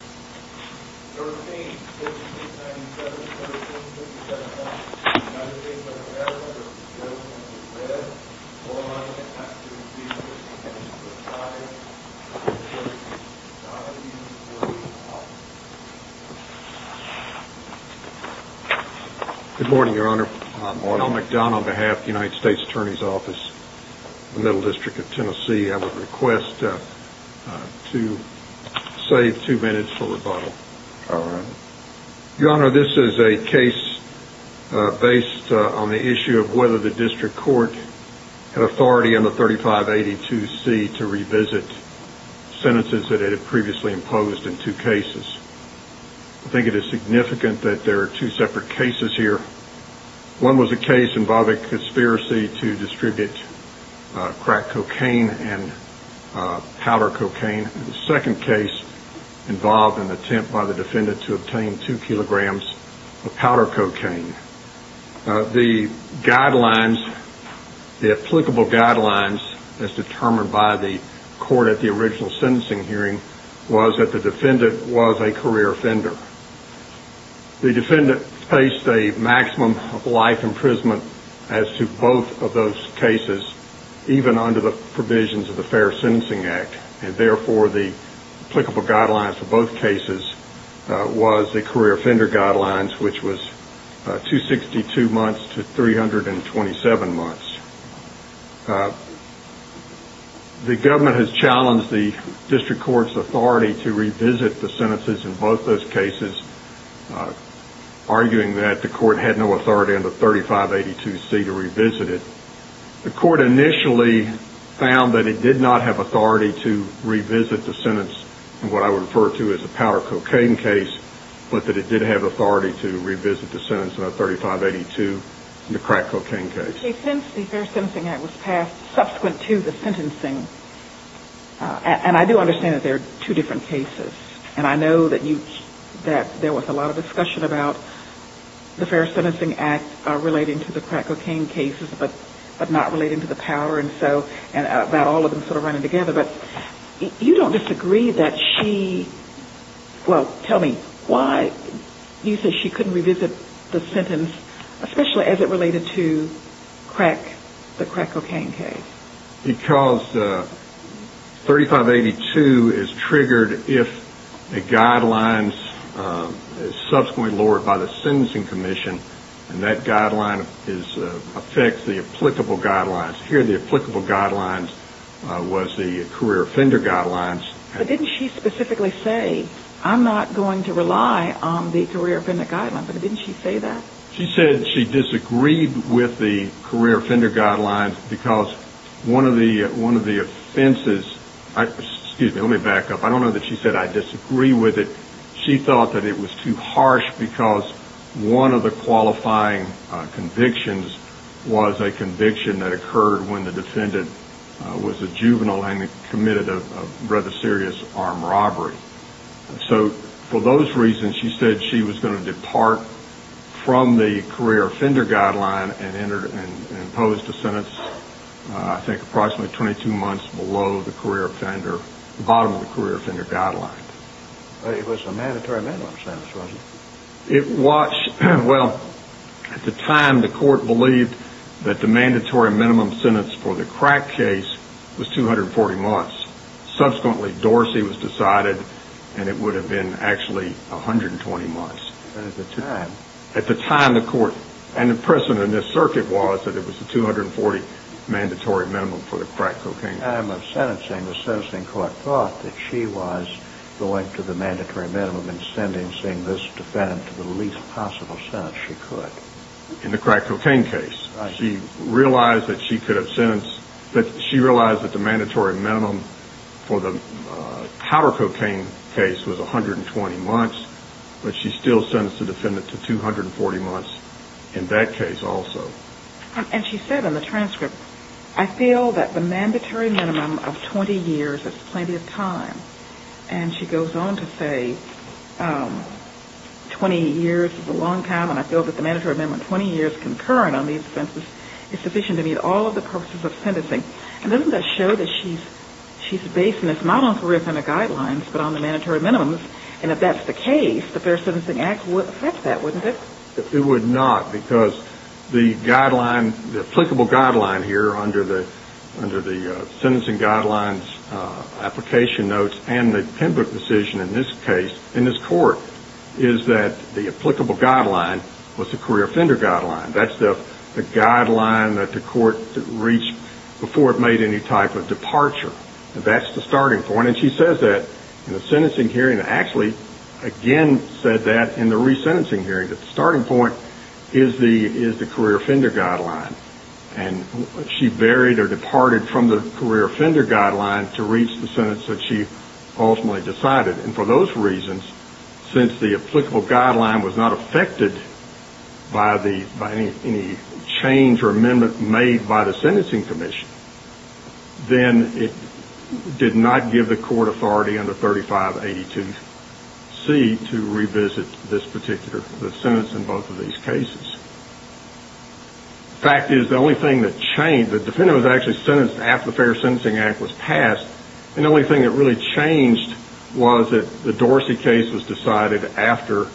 Good morning, Your Honor. Ronald McDonald on behalf of the United States Attorney's Office, the Middle District of Tennessee, I would request to save two minutes for rebuttal. Your Honor, this is a case based on the issue of whether the District Court had authority under 3582C to revisit sentences that it had previously imposed in two cases. I think it is significant that there are two separate cases here. One was a case involving conspiracy to distribute crack cocaine and powder cocaine. The second case involved an attempt by the defendant to obtain two kilograms of powder cocaine. The applicable guidelines as determined by the court at the original sentencing hearing was that the defendant was a career offender. The defendant faced a maximum of life imprisonment as to both of those cases, even under the provisions of the Fair Sentencing Act. Therefore, the applicable guidelines for both cases was the career offender guidelines, which was 262 months to 327 months. The government has arguing that the court had no authority under 3582C to revisit it. The court initially found that it did not have authority to revisit the sentence in what I would refer to as a powder cocaine case, but that it did have authority to revisit the sentence under 3582 in the crack cocaine case. Since the Fair Sentencing Act was passed subsequent to the sentencing, and I do understand that there are two different cases, and I know that there was a lot of discussion about the Fair Sentencing Act relating to the crack cocaine cases, but not relating to the powder, and about all of them sort of running together, but you don't disagree that she, well, tell me why you say she couldn't revisit the sentence, especially as it related to the crack cocaine case? Because 3582 is triggered if a guideline is subsequently lowered by the sentencing commission, and that guideline affects the applicable guidelines. Here, the applicable guidelines was the career offender guidelines. But didn't she specifically say, I'm not going to rely on the career offender guidelines, but didn't she say that? She said she disagreed with the career offender guidelines because one of the offenses, excuse me, let me back up. I don't know that she said I disagree with it. She thought that it was too harsh because one of the qualifying convictions was a conviction that occurred when the defendant was a juvenile and committed a rather serious armed robbery. So for those reasons, she said she was going to depart from the career offender guideline and impose the sentence I think approximately 22 months below the career offender, the bottom of the career offender guideline. But it was a mandatory minimum sentence, wasn't it? It was, well, at the time the court believed that the mandatory minimum sentence for the crack case was 240 months. Subsequently, Dorsey was decided and it would have been actually 120 months. At the time? At the time the court and the precedent in this circuit was that it was a 240 mandatory minimum for the crack cocaine case. At the time of sentencing, the sentencing court thought that she was going to the mandatory minimum and sentencing this defendant to the least possible sentence she could. In the crack cocaine case. She realized that the mandatory minimum for the powder cocaine case was 120 months, but she still sentenced the defendant to 240 months in that case also. And she said in the transcript, I feel that the mandatory minimum of 20 years is plenty of time. And she goes on to say 20 years is a long time, and I feel that the mandatory minimum of 20 years concurrent on these offenses is sufficient to meet all of the purposes of sentencing. And doesn't that show that she's basing this not on career offender guidelines, but on the mandatory minimums? And if that's the case, the Fair Sentencing Act would affect that, wouldn't it? It would not, because the applicable guideline here under the sentencing guidelines application notes and the pen book decision in this case, in this court, is that the applicable guideline was the career offender guideline. That's the guideline that the court reached before it made any type of departure. That's the starting point, and she says that in the sentencing hearing, and actually again said that in the resentencing hearing, that the starting point is the career offender guideline. And she buried or departed from the career offender guideline to reach the sentence that she ultimately decided. And for those reasons, since the applicable guideline was not affected by any change or amendment made by the sentencing commission, then it did not give the court authority under 3582C to revisit this particular sentence in both of these cases. The fact is, the only thing that changed, the defendant was actually sentenced after the Fair Sentencing Act was passed, and the only thing that really changed was that the Dorsey case was decided after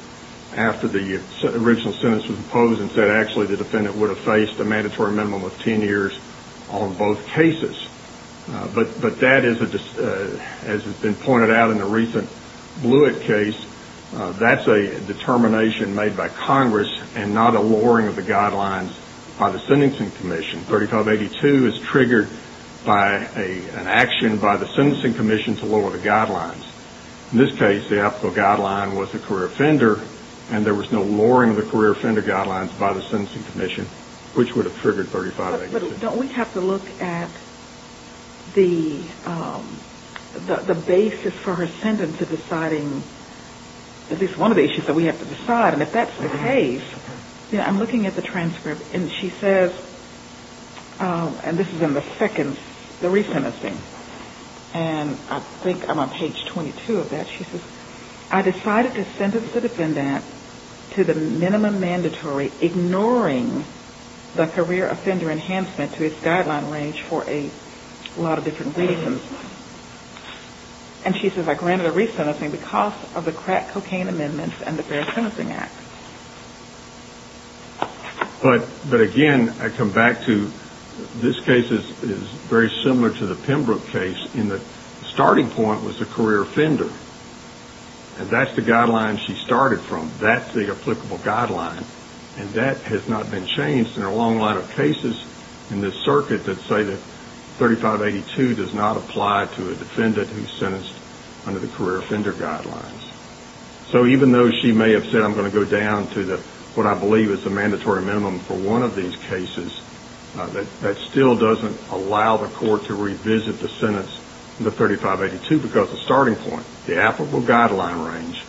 the original sentence was imposed and said actually the defendant would have faced a mandatory minimum of 10 years on both cases. But that is, as has been pointed out in the recent Blewett case, that's a determination made by Congress and not a lowering of the guidelines by the sentencing commission. 3582 is triggered by an action by the sentencing commission to lower the guidelines. In this case, the applicable guideline was the career offender and there was no lowering of the career offender guidelines by the sentencing commission, which would have triggered 3582C. But don't we have to look at the basis for her sentence of deciding, at least one of the issues that we have to decide, and if that's the case, I'm looking at the transcript and she says, and this is in the second, the resentencing. And I think I'm on page 22 of that. She says, I decided to sentence the defendant to the minimum mandatory, ignoring the career offender enhancement to its guideline range for a lot of different reasons. And she says, I granted a resentencing because of the crack cocaine amendments and the Fair Sentencing Act. But again, I come back to this case is very similar to the Pembroke case in that the starting point was the career offender. And that's the guideline she started from. That's the applicable guideline and that has not been changed in a long line of cases in this circuit that say that 3582 does not apply to a defendant who is sentenced under the career offender guidelines. So even though she may have said, I'm going to go down to what I believe is the mandatory minimum for one of these cases, that still doesn't allow the court to revisit the sentence, the 3582, because the starting point, the applicable guideline range,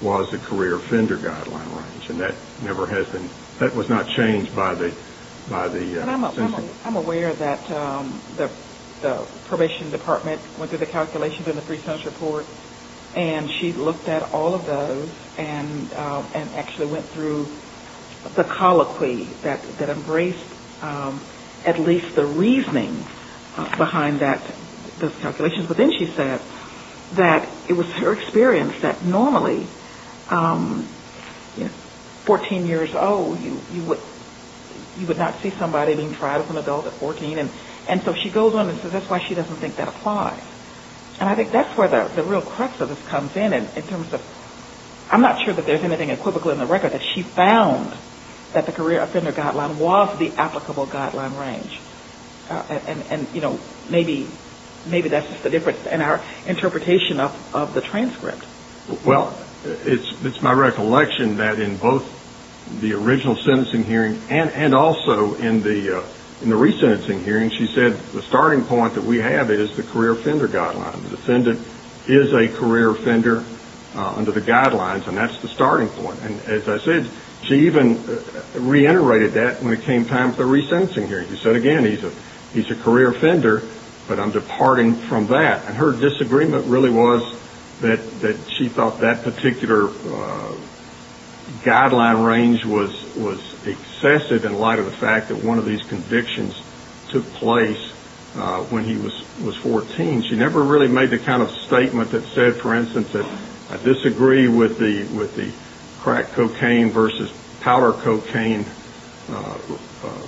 was the career offender guideline range. And that never has been, that was not changed by the sentence. I'm aware that the probation department went through the calculations in the pre-sentence report and she looked at all of those and actually went through the colloquy that embraced at least the reasoning behind those calculations. But then she said that it was her experience that normally, 14 years old, you would not see somebody being tried as an adult at 14. And so she goes on and says that's why she doesn't think that applies. And I think that's where the real crux of this comes in, in terms of, I'm not sure that there's anything equivocal in the record that she found that the career offender guideline was the applicable guideline range. And, you know, maybe that's just the difference in our interpretation of the transcript. Well, it's my recollection that in both the original sentencing hearing and also in the re-sentencing hearing, she said, the starting point that we have is the career offender guideline. The defendant is a career offender under the guidelines and that's the starting point. And as I said, she even reiterated that when it came time for the re-sentencing hearing. She said again, he's a career offender, but I'm departing from that. Her disagreement really was that she thought that particular guideline range was excessive in light of the fact that one of these convictions took place when he was 14. She never really made the kind of statement that said, for instance, that I disagree with the crack cocaine versus powder cocaine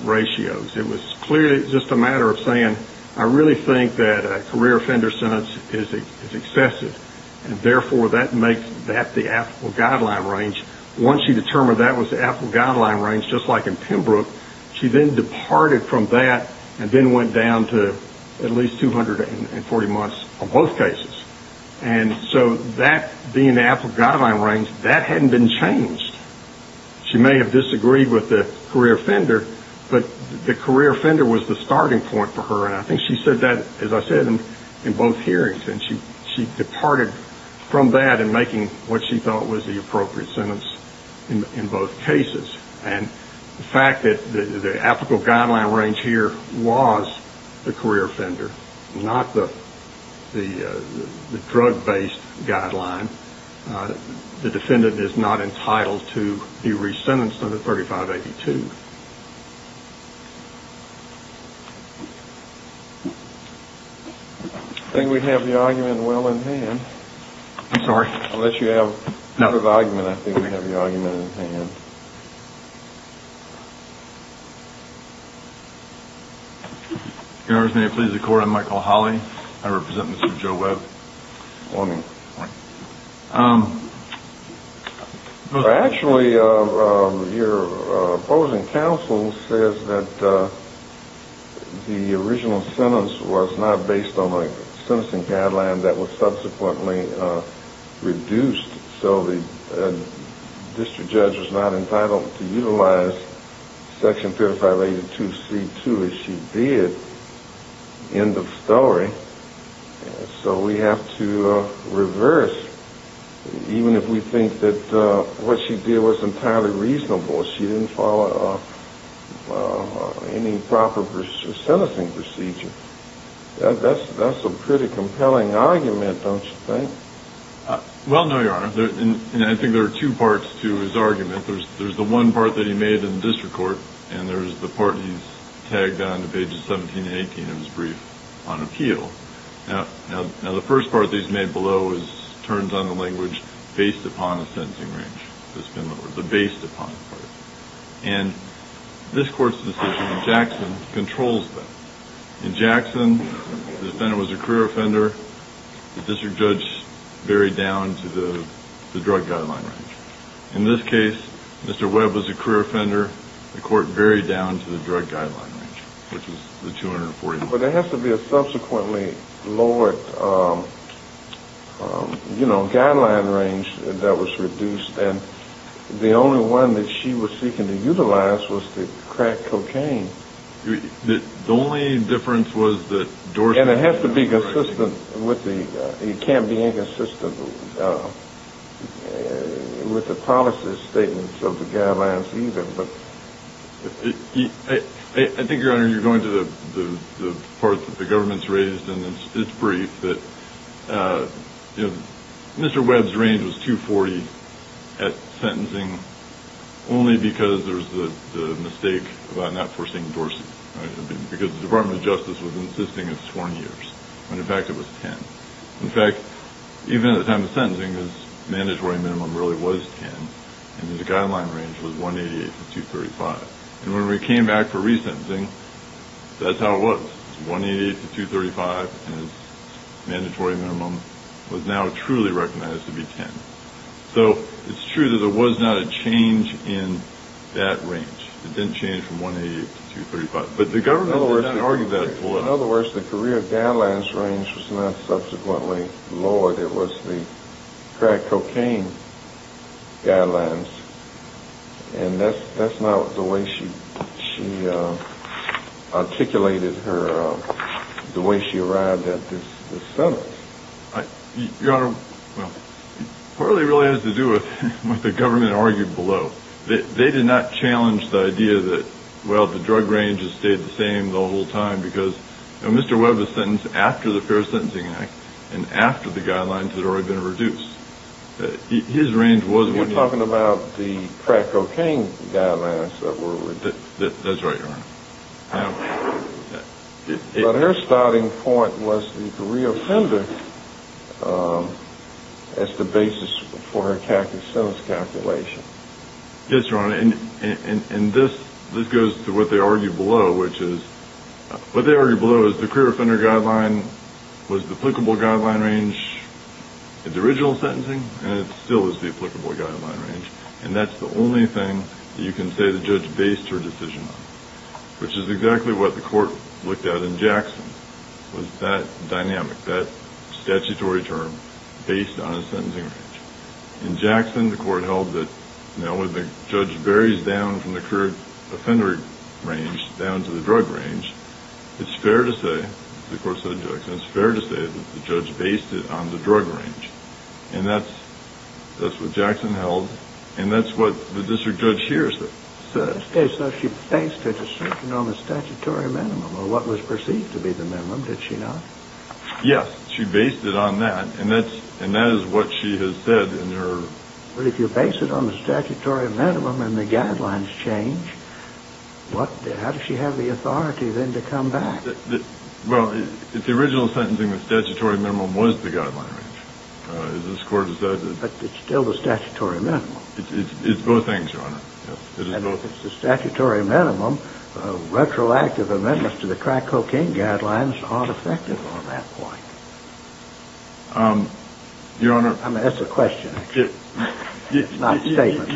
ratios. It was clearly just a matter of saying, I really think that a career offender sentence is excessive and therefore that makes that the applicable guideline range. Once she determined that was the applicable guideline range, just like in Pembroke, she then departed from that and then went down to at least 240 months on both cases. And so that being the applicable guideline range, that hadn't been changed. She may have disagreed with the career offender, but the career offender was the starting point for her. And I think she said that, as I said, in both hearings. And she departed from that in making what she thought was the appropriate sentence in both cases. And the fact that the applicable guideline range here was the career offender, not the drug-based guideline, the defendant is not entitled to be re-sentenced under 3582. I think we have the argument well in hand. Sorry? Unless you have a better argument, I think we have the argument in hand. Your Honors, may it please the Court, I'm Michael Holley. I represent Mr. Joe Webb. Morning. Morning. Actually, your opposing counsel says that the original sentence was not based on a sentencing guideline that was subsequently reduced. So the district judge was not entitled to utilize section 3582C2 as she did. End of story. So we have to reverse, even if we think that what she did was entirely reasonable. She didn't follow any proper sentencing procedure. That's a pretty compelling argument, don't you think? Well, no, your Honor. And I think there are two parts to his argument. There's the one part that he made in the district court, and there's the part that he's tagged onto pages 17 and 18 of his brief on appeal. Now, the first part that he's made below turns on the language based upon the sentencing range that's been lowered, but based upon the part. And this Court's decision in Jackson controls that. In Jackson, the defendant was a career offender. The district judge buried down to the drug guideline range. In this case, Mr. Webb was a career offender. The court buried down to the drug guideline range, which is the 241. But there has to be a subsequently lowered guideline range that was reduced, and the only one that she was seeking to utilize was to crack cocaine. The only difference was that Dorsey... And it has to be consistent with the... It can't be inconsistent with the policy statements of the guidelines either, but I think, Your Honor, you're going to the part that the government's raised in its brief that Mr. Webb's range was 240 at sentencing only because there was the mistake about not forcing Dorsey, because the Department of Justice was insisting it's 20 years, when in fact it was 10. In fact, even at the time of sentencing, his mandatory minimum really was 10, and his guideline range was 188 to 235. And when we came back for resentencing, that's how it was. 188 to 235 as mandatory minimum was now truly recognized to be 10. So it's true that there was not a change in that range. It didn't change from 188 to 235. But the government... In other words, the career guidelines range was not subsequently lowered. It was the crack cocaine guidelines, and that's not the way she articulated her... the way she arrived at this sentence. Your Honor, it really has to do with what the government argued below. They did not challenge the idea that, well, the drug range has stayed the same the whole time because Mr. Webb was sentenced after the Fair Sentencing Act and after the guidelines had already been reduced. His range was... You're talking about the crack cocaine guidelines that were reduced. That's right, Your Honor. But her starting point was the career appendix as the basis for her sentence calculation. Yes, Your Honor, and this goes to what they argued below, which is... What they argued below is the career offender guideline was the applicable guideline range in the original sentencing, and it still is the applicable guideline range. And that's the only thing that you can say the judge based her decision on, which is exactly what the court looked at in Jackson, was that dynamic, that statutory term based on a sentencing range. In Jackson, the court held that, you know, when the judge buries down from the career offender range down to the drug range, it's fair to say, the court said to Jackson, it's fair to say that the judge based it on the drug range. And that's what Jackson held, and that's what the district judge here said. So she based her decision on the statutory minimum, or what was perceived to be the minimum, did she not? Yes, she based it on that, and that is what she has said in her... But if you base it on the statutory minimum and the guidelines change, how does she have the authority then to come back? Well, the original sentencing, the statutory minimum was the guideline range. As this court has said... But it's still the statutory minimum. It's both things, Your Honor. If it's the statutory minimum, retroactive amendments to the crack cocaine guidelines aren't effective on that point. Um, Your Honor... I'm going to ask a question. It's not a statement.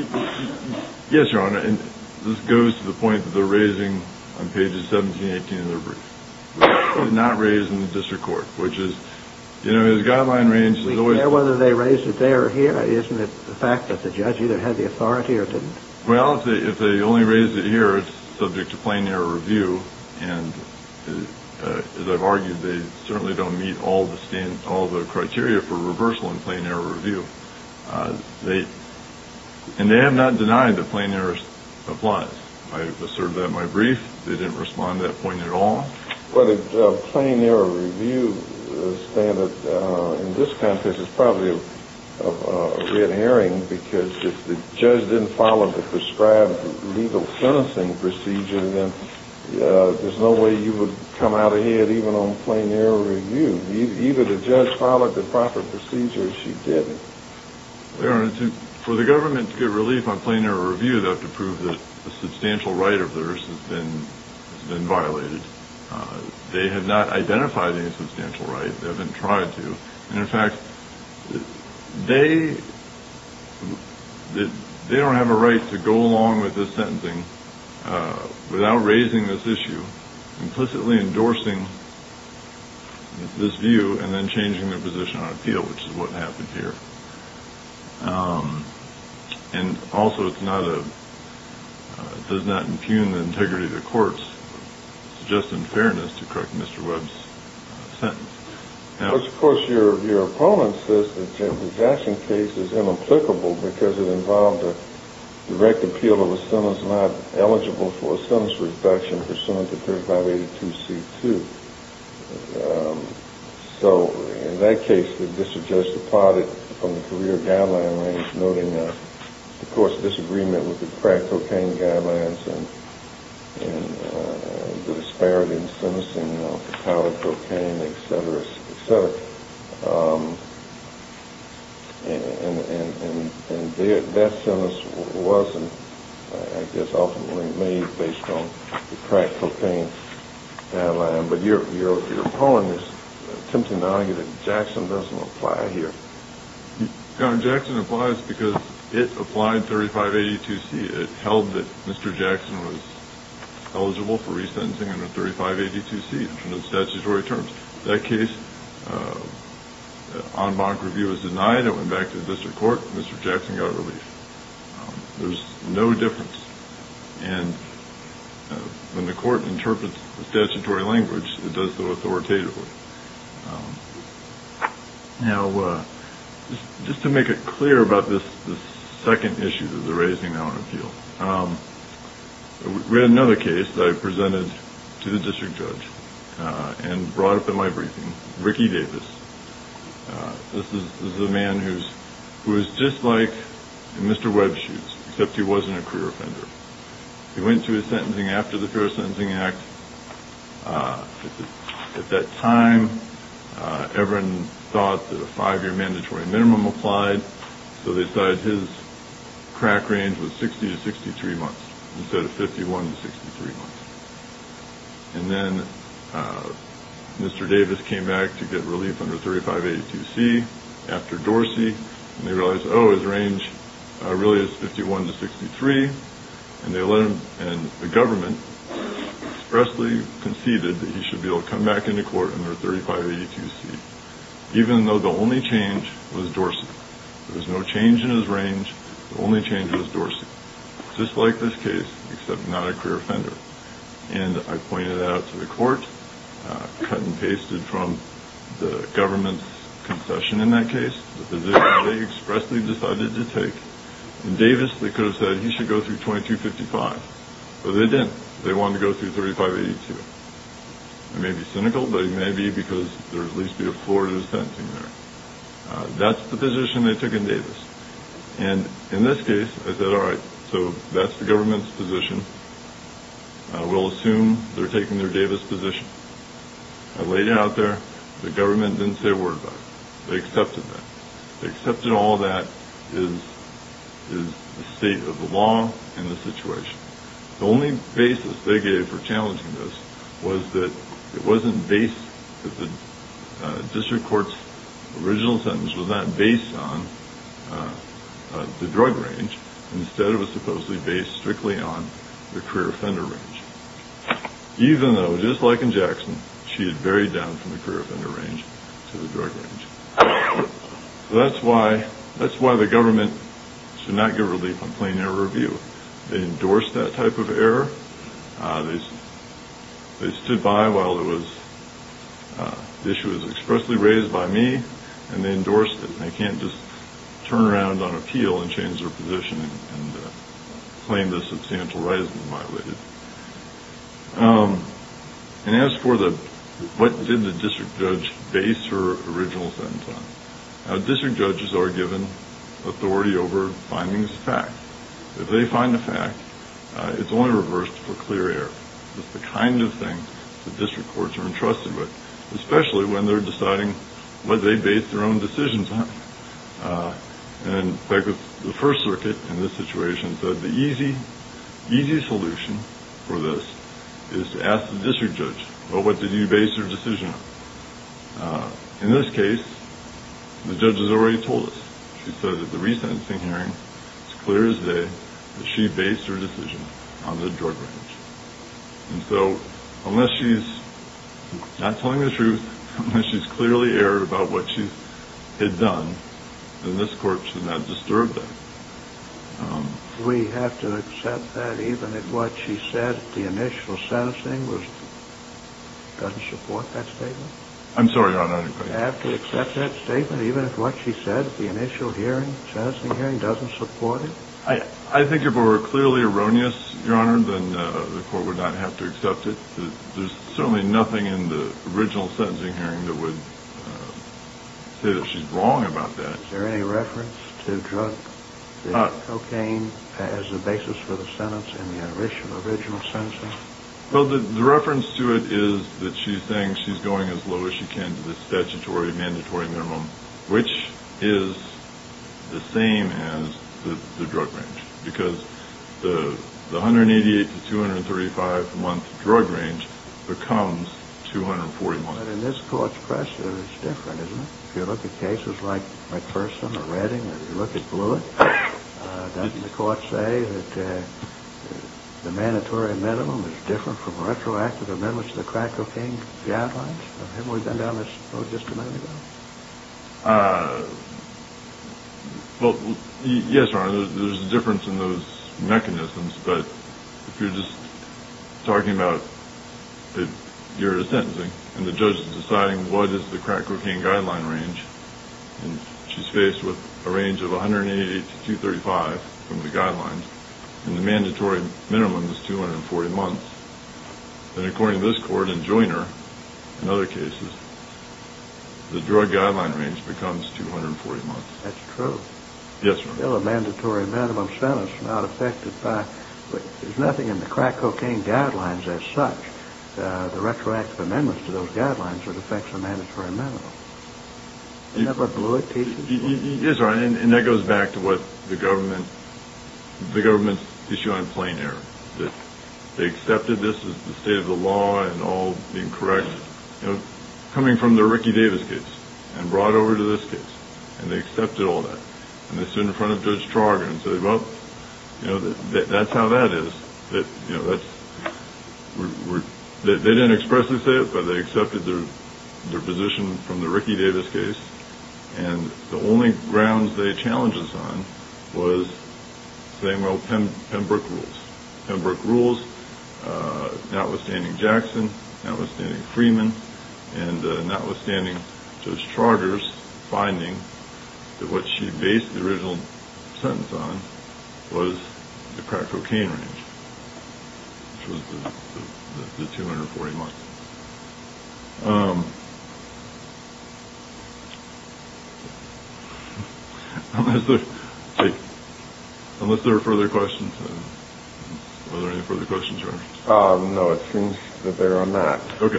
Yes, Your Honor, and this goes to the point that they're raising on pages 17 and 18 of their brief. It's not raised in the district court, which is, you know, the guideline range... We care whether they raised it there or here? Isn't it the fact that the judge either had the authority or didn't? Well, if they only raised it here, it's subject to plain error review, and as I've argued, they certainly don't meet all the standards, for reversal and plain error review. Uh, they... And they have not denied that plain error applies. I asserted that in my brief. They didn't respond to that point at all. But a plain error review standard, in this context, is probably a red herring because if the judge didn't follow the prescribed legal sentencing procedure, then there's no way you would come out ahead even on plain error review. Even if the judge followed the proper procedure, she didn't. Your Honor, for the government to get relief on plain error review, they'll have to prove that a substantial right of theirs has been violated. They have not identified any substantial right. They haven't tried to. And in fact, they don't have a right to go along with this sentencing without raising this issue, implicitly endorsing this view and then changing their position on appeal, which is what happened here. Um, and also it's not a... It does not impugn the integrity of the court's suggestion of fairness to correct Mr. Webb's sentence. But of course, your opponent says that the Jackson case is inapplicable because it involved a direct appeal of a sentence not eligible for a sentence reduction pursuant to 3582C2. Um, so, in that case, the district judge departed from the career guideline range, noting the court's disagreement with the crack cocaine guidelines and the disparity in sentencing of the power of cocaine, etc. Um, and that sentence wasn't, I guess, ultimately made based on the crack cocaine guideline. But your opponent is attempting to argue that Jackson doesn't apply here. Yeah, Jackson applies because it applied 3582C. It held that Mr. Jackson was eligible for resentencing under 3582C under the statutory terms. That case, um, the en banc review was denied. It went back to the district court. Mr. Jackson got relief. Um, there's no difference. And when the court interprets the statutory language, it does so authoritatively. Um, now, uh, just to make it clear about this second issue that they're raising now in appeal, um, we had another case that I presented to the district judge and brought up in my briefing. Ricky Davis. This is a man who's just like Mr. Webshoes except he wasn't a career offender. He went to his sentencing after the Fair Sentencing Act. Uh, at that time uh, everyone thought that a five-year mandatory minimum applied, so they decided his crack range was 60 to 63 months instead of 51 to 63 months. And then, uh, Mr. Davis came back to get relief under 3582C after Dorsey and they realized oh, his range, uh, really is 51 to 63 and they let him, and the government expressly conceded that he should be able to come back into court under 3582C even though the only change was Dorsey. There was no change in his range the only change was Dorsey. Just like this case, except not a career offender. And I pointed that out to the court uh, cut and pasted from the government's concession in that case, the position they expressly decided to take. And Davis they could have said he should go through 2255C but they didn't. They wanted to go through 3582C. I may be cynical, but I may be because there's at least a Florida sentencing there. Uh, that's the position they took in Davis. And in this case, I said alright, so that's the government's position uh, we'll assume they're taking their Davis position. I laid it out there. The government didn't say a word about it. They accepted that. They accepted all that is the state of the law and the situation. The only basis they gave for challenging this was that it wasn't based uh, the district court's original sentence was not based on uh, the drug range. Instead it was supposedly based strictly on the career offender range. Even though, just like in Jackson, she had varied down from the career offender range to the drug range. So that's why that's why the government should not give relief on plain air review. They endorsed that type of error. Uh, they they stood by while it was uh, the issue was expressly raised by me, and they endorsed it. They can't just turn around on appeal and change their position and claim the substantial rise in my weight. Um, and as for the, what did the district judge base her original sentence on? Uh, district judges are given authority over finding facts. If they find a fact uh, it's only reversed for clear air. It's the kind of thing the district courts are entrusted with. Especially when they're deciding what they base their own decisions on. Uh, and the first circuit in this situation said the easy, easy solution for this is to ask the district judge, well what did you base your decision on? Uh, in this case the judge has already told us. She said at the resentencing hearing it's clear as day that she based her decision on the drug range. And so, unless she's not telling the truth, unless she's clearly erred about what she had done then this court should not disturb that. Um. We have to accept that even if what she said at the initial sentencing was, doesn't support that statement? I'm sorry your honor. We have to accept that statement even if what she said at the initial hearing at the sentencing hearing doesn't support it? I, I think if it were clearly erroneous, your honor, then uh, the court would not have to accept it. There's certainly nothing in the original sentencing hearing that would say that she's wrong about that. Is there any reference to drug cocaine as a basis for the sentence in the original sentencing? Well, the reference to it is that she thinks she's going as low as she can to the statutory mandatory minimum which is the same as the drug range. Because the 188 to 235 month drug range becomes 240 months. But in this court's precedent it's different, isn't it? If you look at cases like McPherson or Redding or if you look at Blewett uh, doesn't the court say that uh, the mandatory minimum is different from retroactive amendments to the crack cocaine guidelines? Haven't we been down this road just a minute ago? Uh, well, yes your honor, there's a difference in those mechanisms but if you're just talking about your sentencing and the judge is asking what is the crack cocaine guideline range and she's faced with a range of 188 to 235 from the guidelines and the mandatory minimum is 240 months then according to this court and Joyner and other cases the drug guideline range becomes 240 months. That's true. Yes, your honor. Well, a mandatory minimum sentence is not affected by there's nothing in the crack cocaine guidelines as such uh, the retroactive amendments to those guidelines would affect the mandatory minimum Isn't that what Blewett teaches you? Yes, your honor, and that goes back to what the government the government's issue on plain error, that they accepted this as the state of the law and all being correct, you know, coming from the Ricky Davis case and brought over to this case and they accepted all that and they stood in front of Judge Trauger and said, well, you know that's how that is, that, you know that's, we're they didn't expressly say it, but they accepted their position from the Ricky Davis case and the only grounds they challenged us on was saying, well, Pembroke rules Pembroke rules notwithstanding Jackson, notwithstanding Freeman and notwithstanding Judge Trauger's finding that what she based the original sentence on was the which was the 240 months unless there unless there are further questions are there any further questions, your honor? No, it seems that there are not Okay,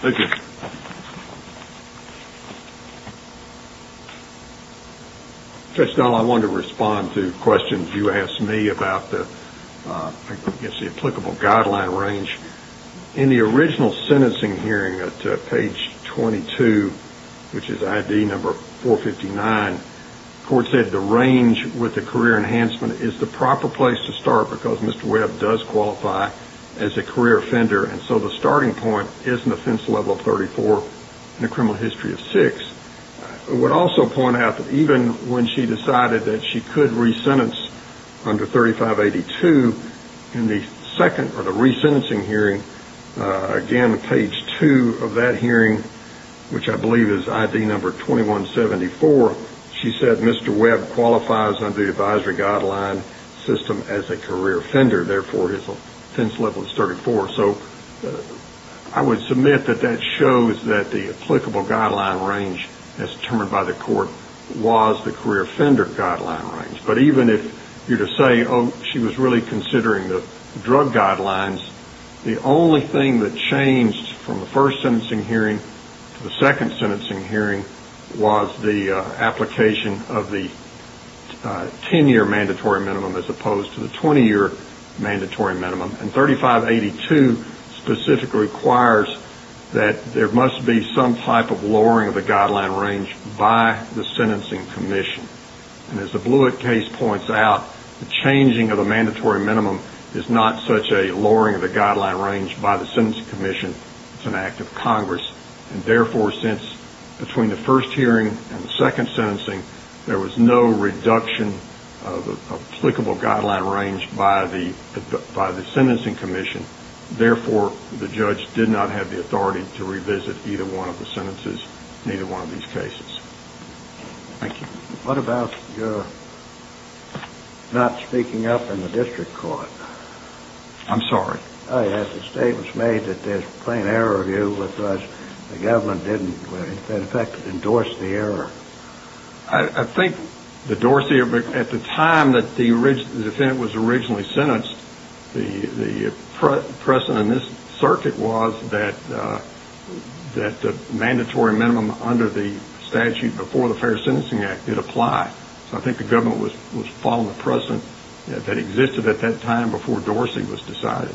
thank you Judge Dunlap, I wanted to respond to questions you asked me about the applicable guideline range in the original sentencing hearing at page 22 which is ID number 459, the court said the range with the career enhancement is the proper place to start because Mr. Webb does qualify as a career offender and so the starting point is an offense level of 34 and a criminal history of 6 I would also point out that even when she decided that she in the second or the resentencing hearing again at page 2 of that hearing which I believe is ID number 2174, she said Mr. Webb qualifies under the advisory guideline system as a career offender, therefore his offense level is 34, so I would submit that that shows that the applicable guideline range as determined by the court was the career offender guideline but even if you were to say she was really considering the drug guidelines, the only thing that changed from the first sentencing hearing to the second sentencing hearing was the application of the 10 year mandatory minimum as opposed to the 20 year mandatory minimum and 3582 specifically requires that there must be some type of lowering of the guideline range by the sentencing commission and as the Blewett case points out, the changing of the mandatory minimum is not such a lowering of the guideline range by the sentencing commission, it's an act of Congress and therefore since between the first hearing and the second sentencing, there was no reduction of the applicable guideline range by the sentencing commission therefore the judge did not have the authority to revisit either one of the sentences in either one of these cases. What about your not speaking up in the district court? I'm sorry. A statement was made that there's plain error of you because the government didn't in fact endorse the error. I think the Dorsey, at the time that the defendant was originally sentenced the precedent in this circuit was that the mandatory minimum under the statute before the Fair Sentencing Act did apply, so I think the government was following the precedent that existed at that time before Dorsey was decided.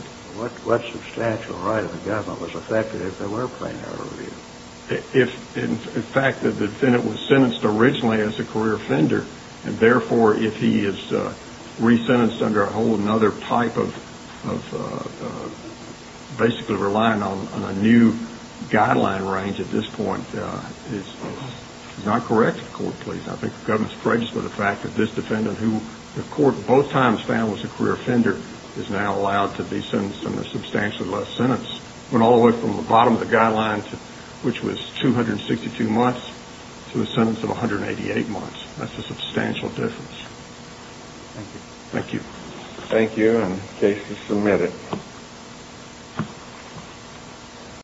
What substantial right of the government was affected if there were plain error of you? In fact, the defendant was sentenced originally as a career offender and therefore if he is resentenced under a whole other type of basically relying on a new guideline range at this point, it's not correct. I think the government is courageous by the fact that this defendant who the court both times found was a career offender is now allowed to be sentenced under a substantially less sentence. It went all the way from the bottom of the guideline which was 262 months to a sentence of 188 months. That's a substantial difference. Thank you. Thank you. And the case is submitted. Thank you.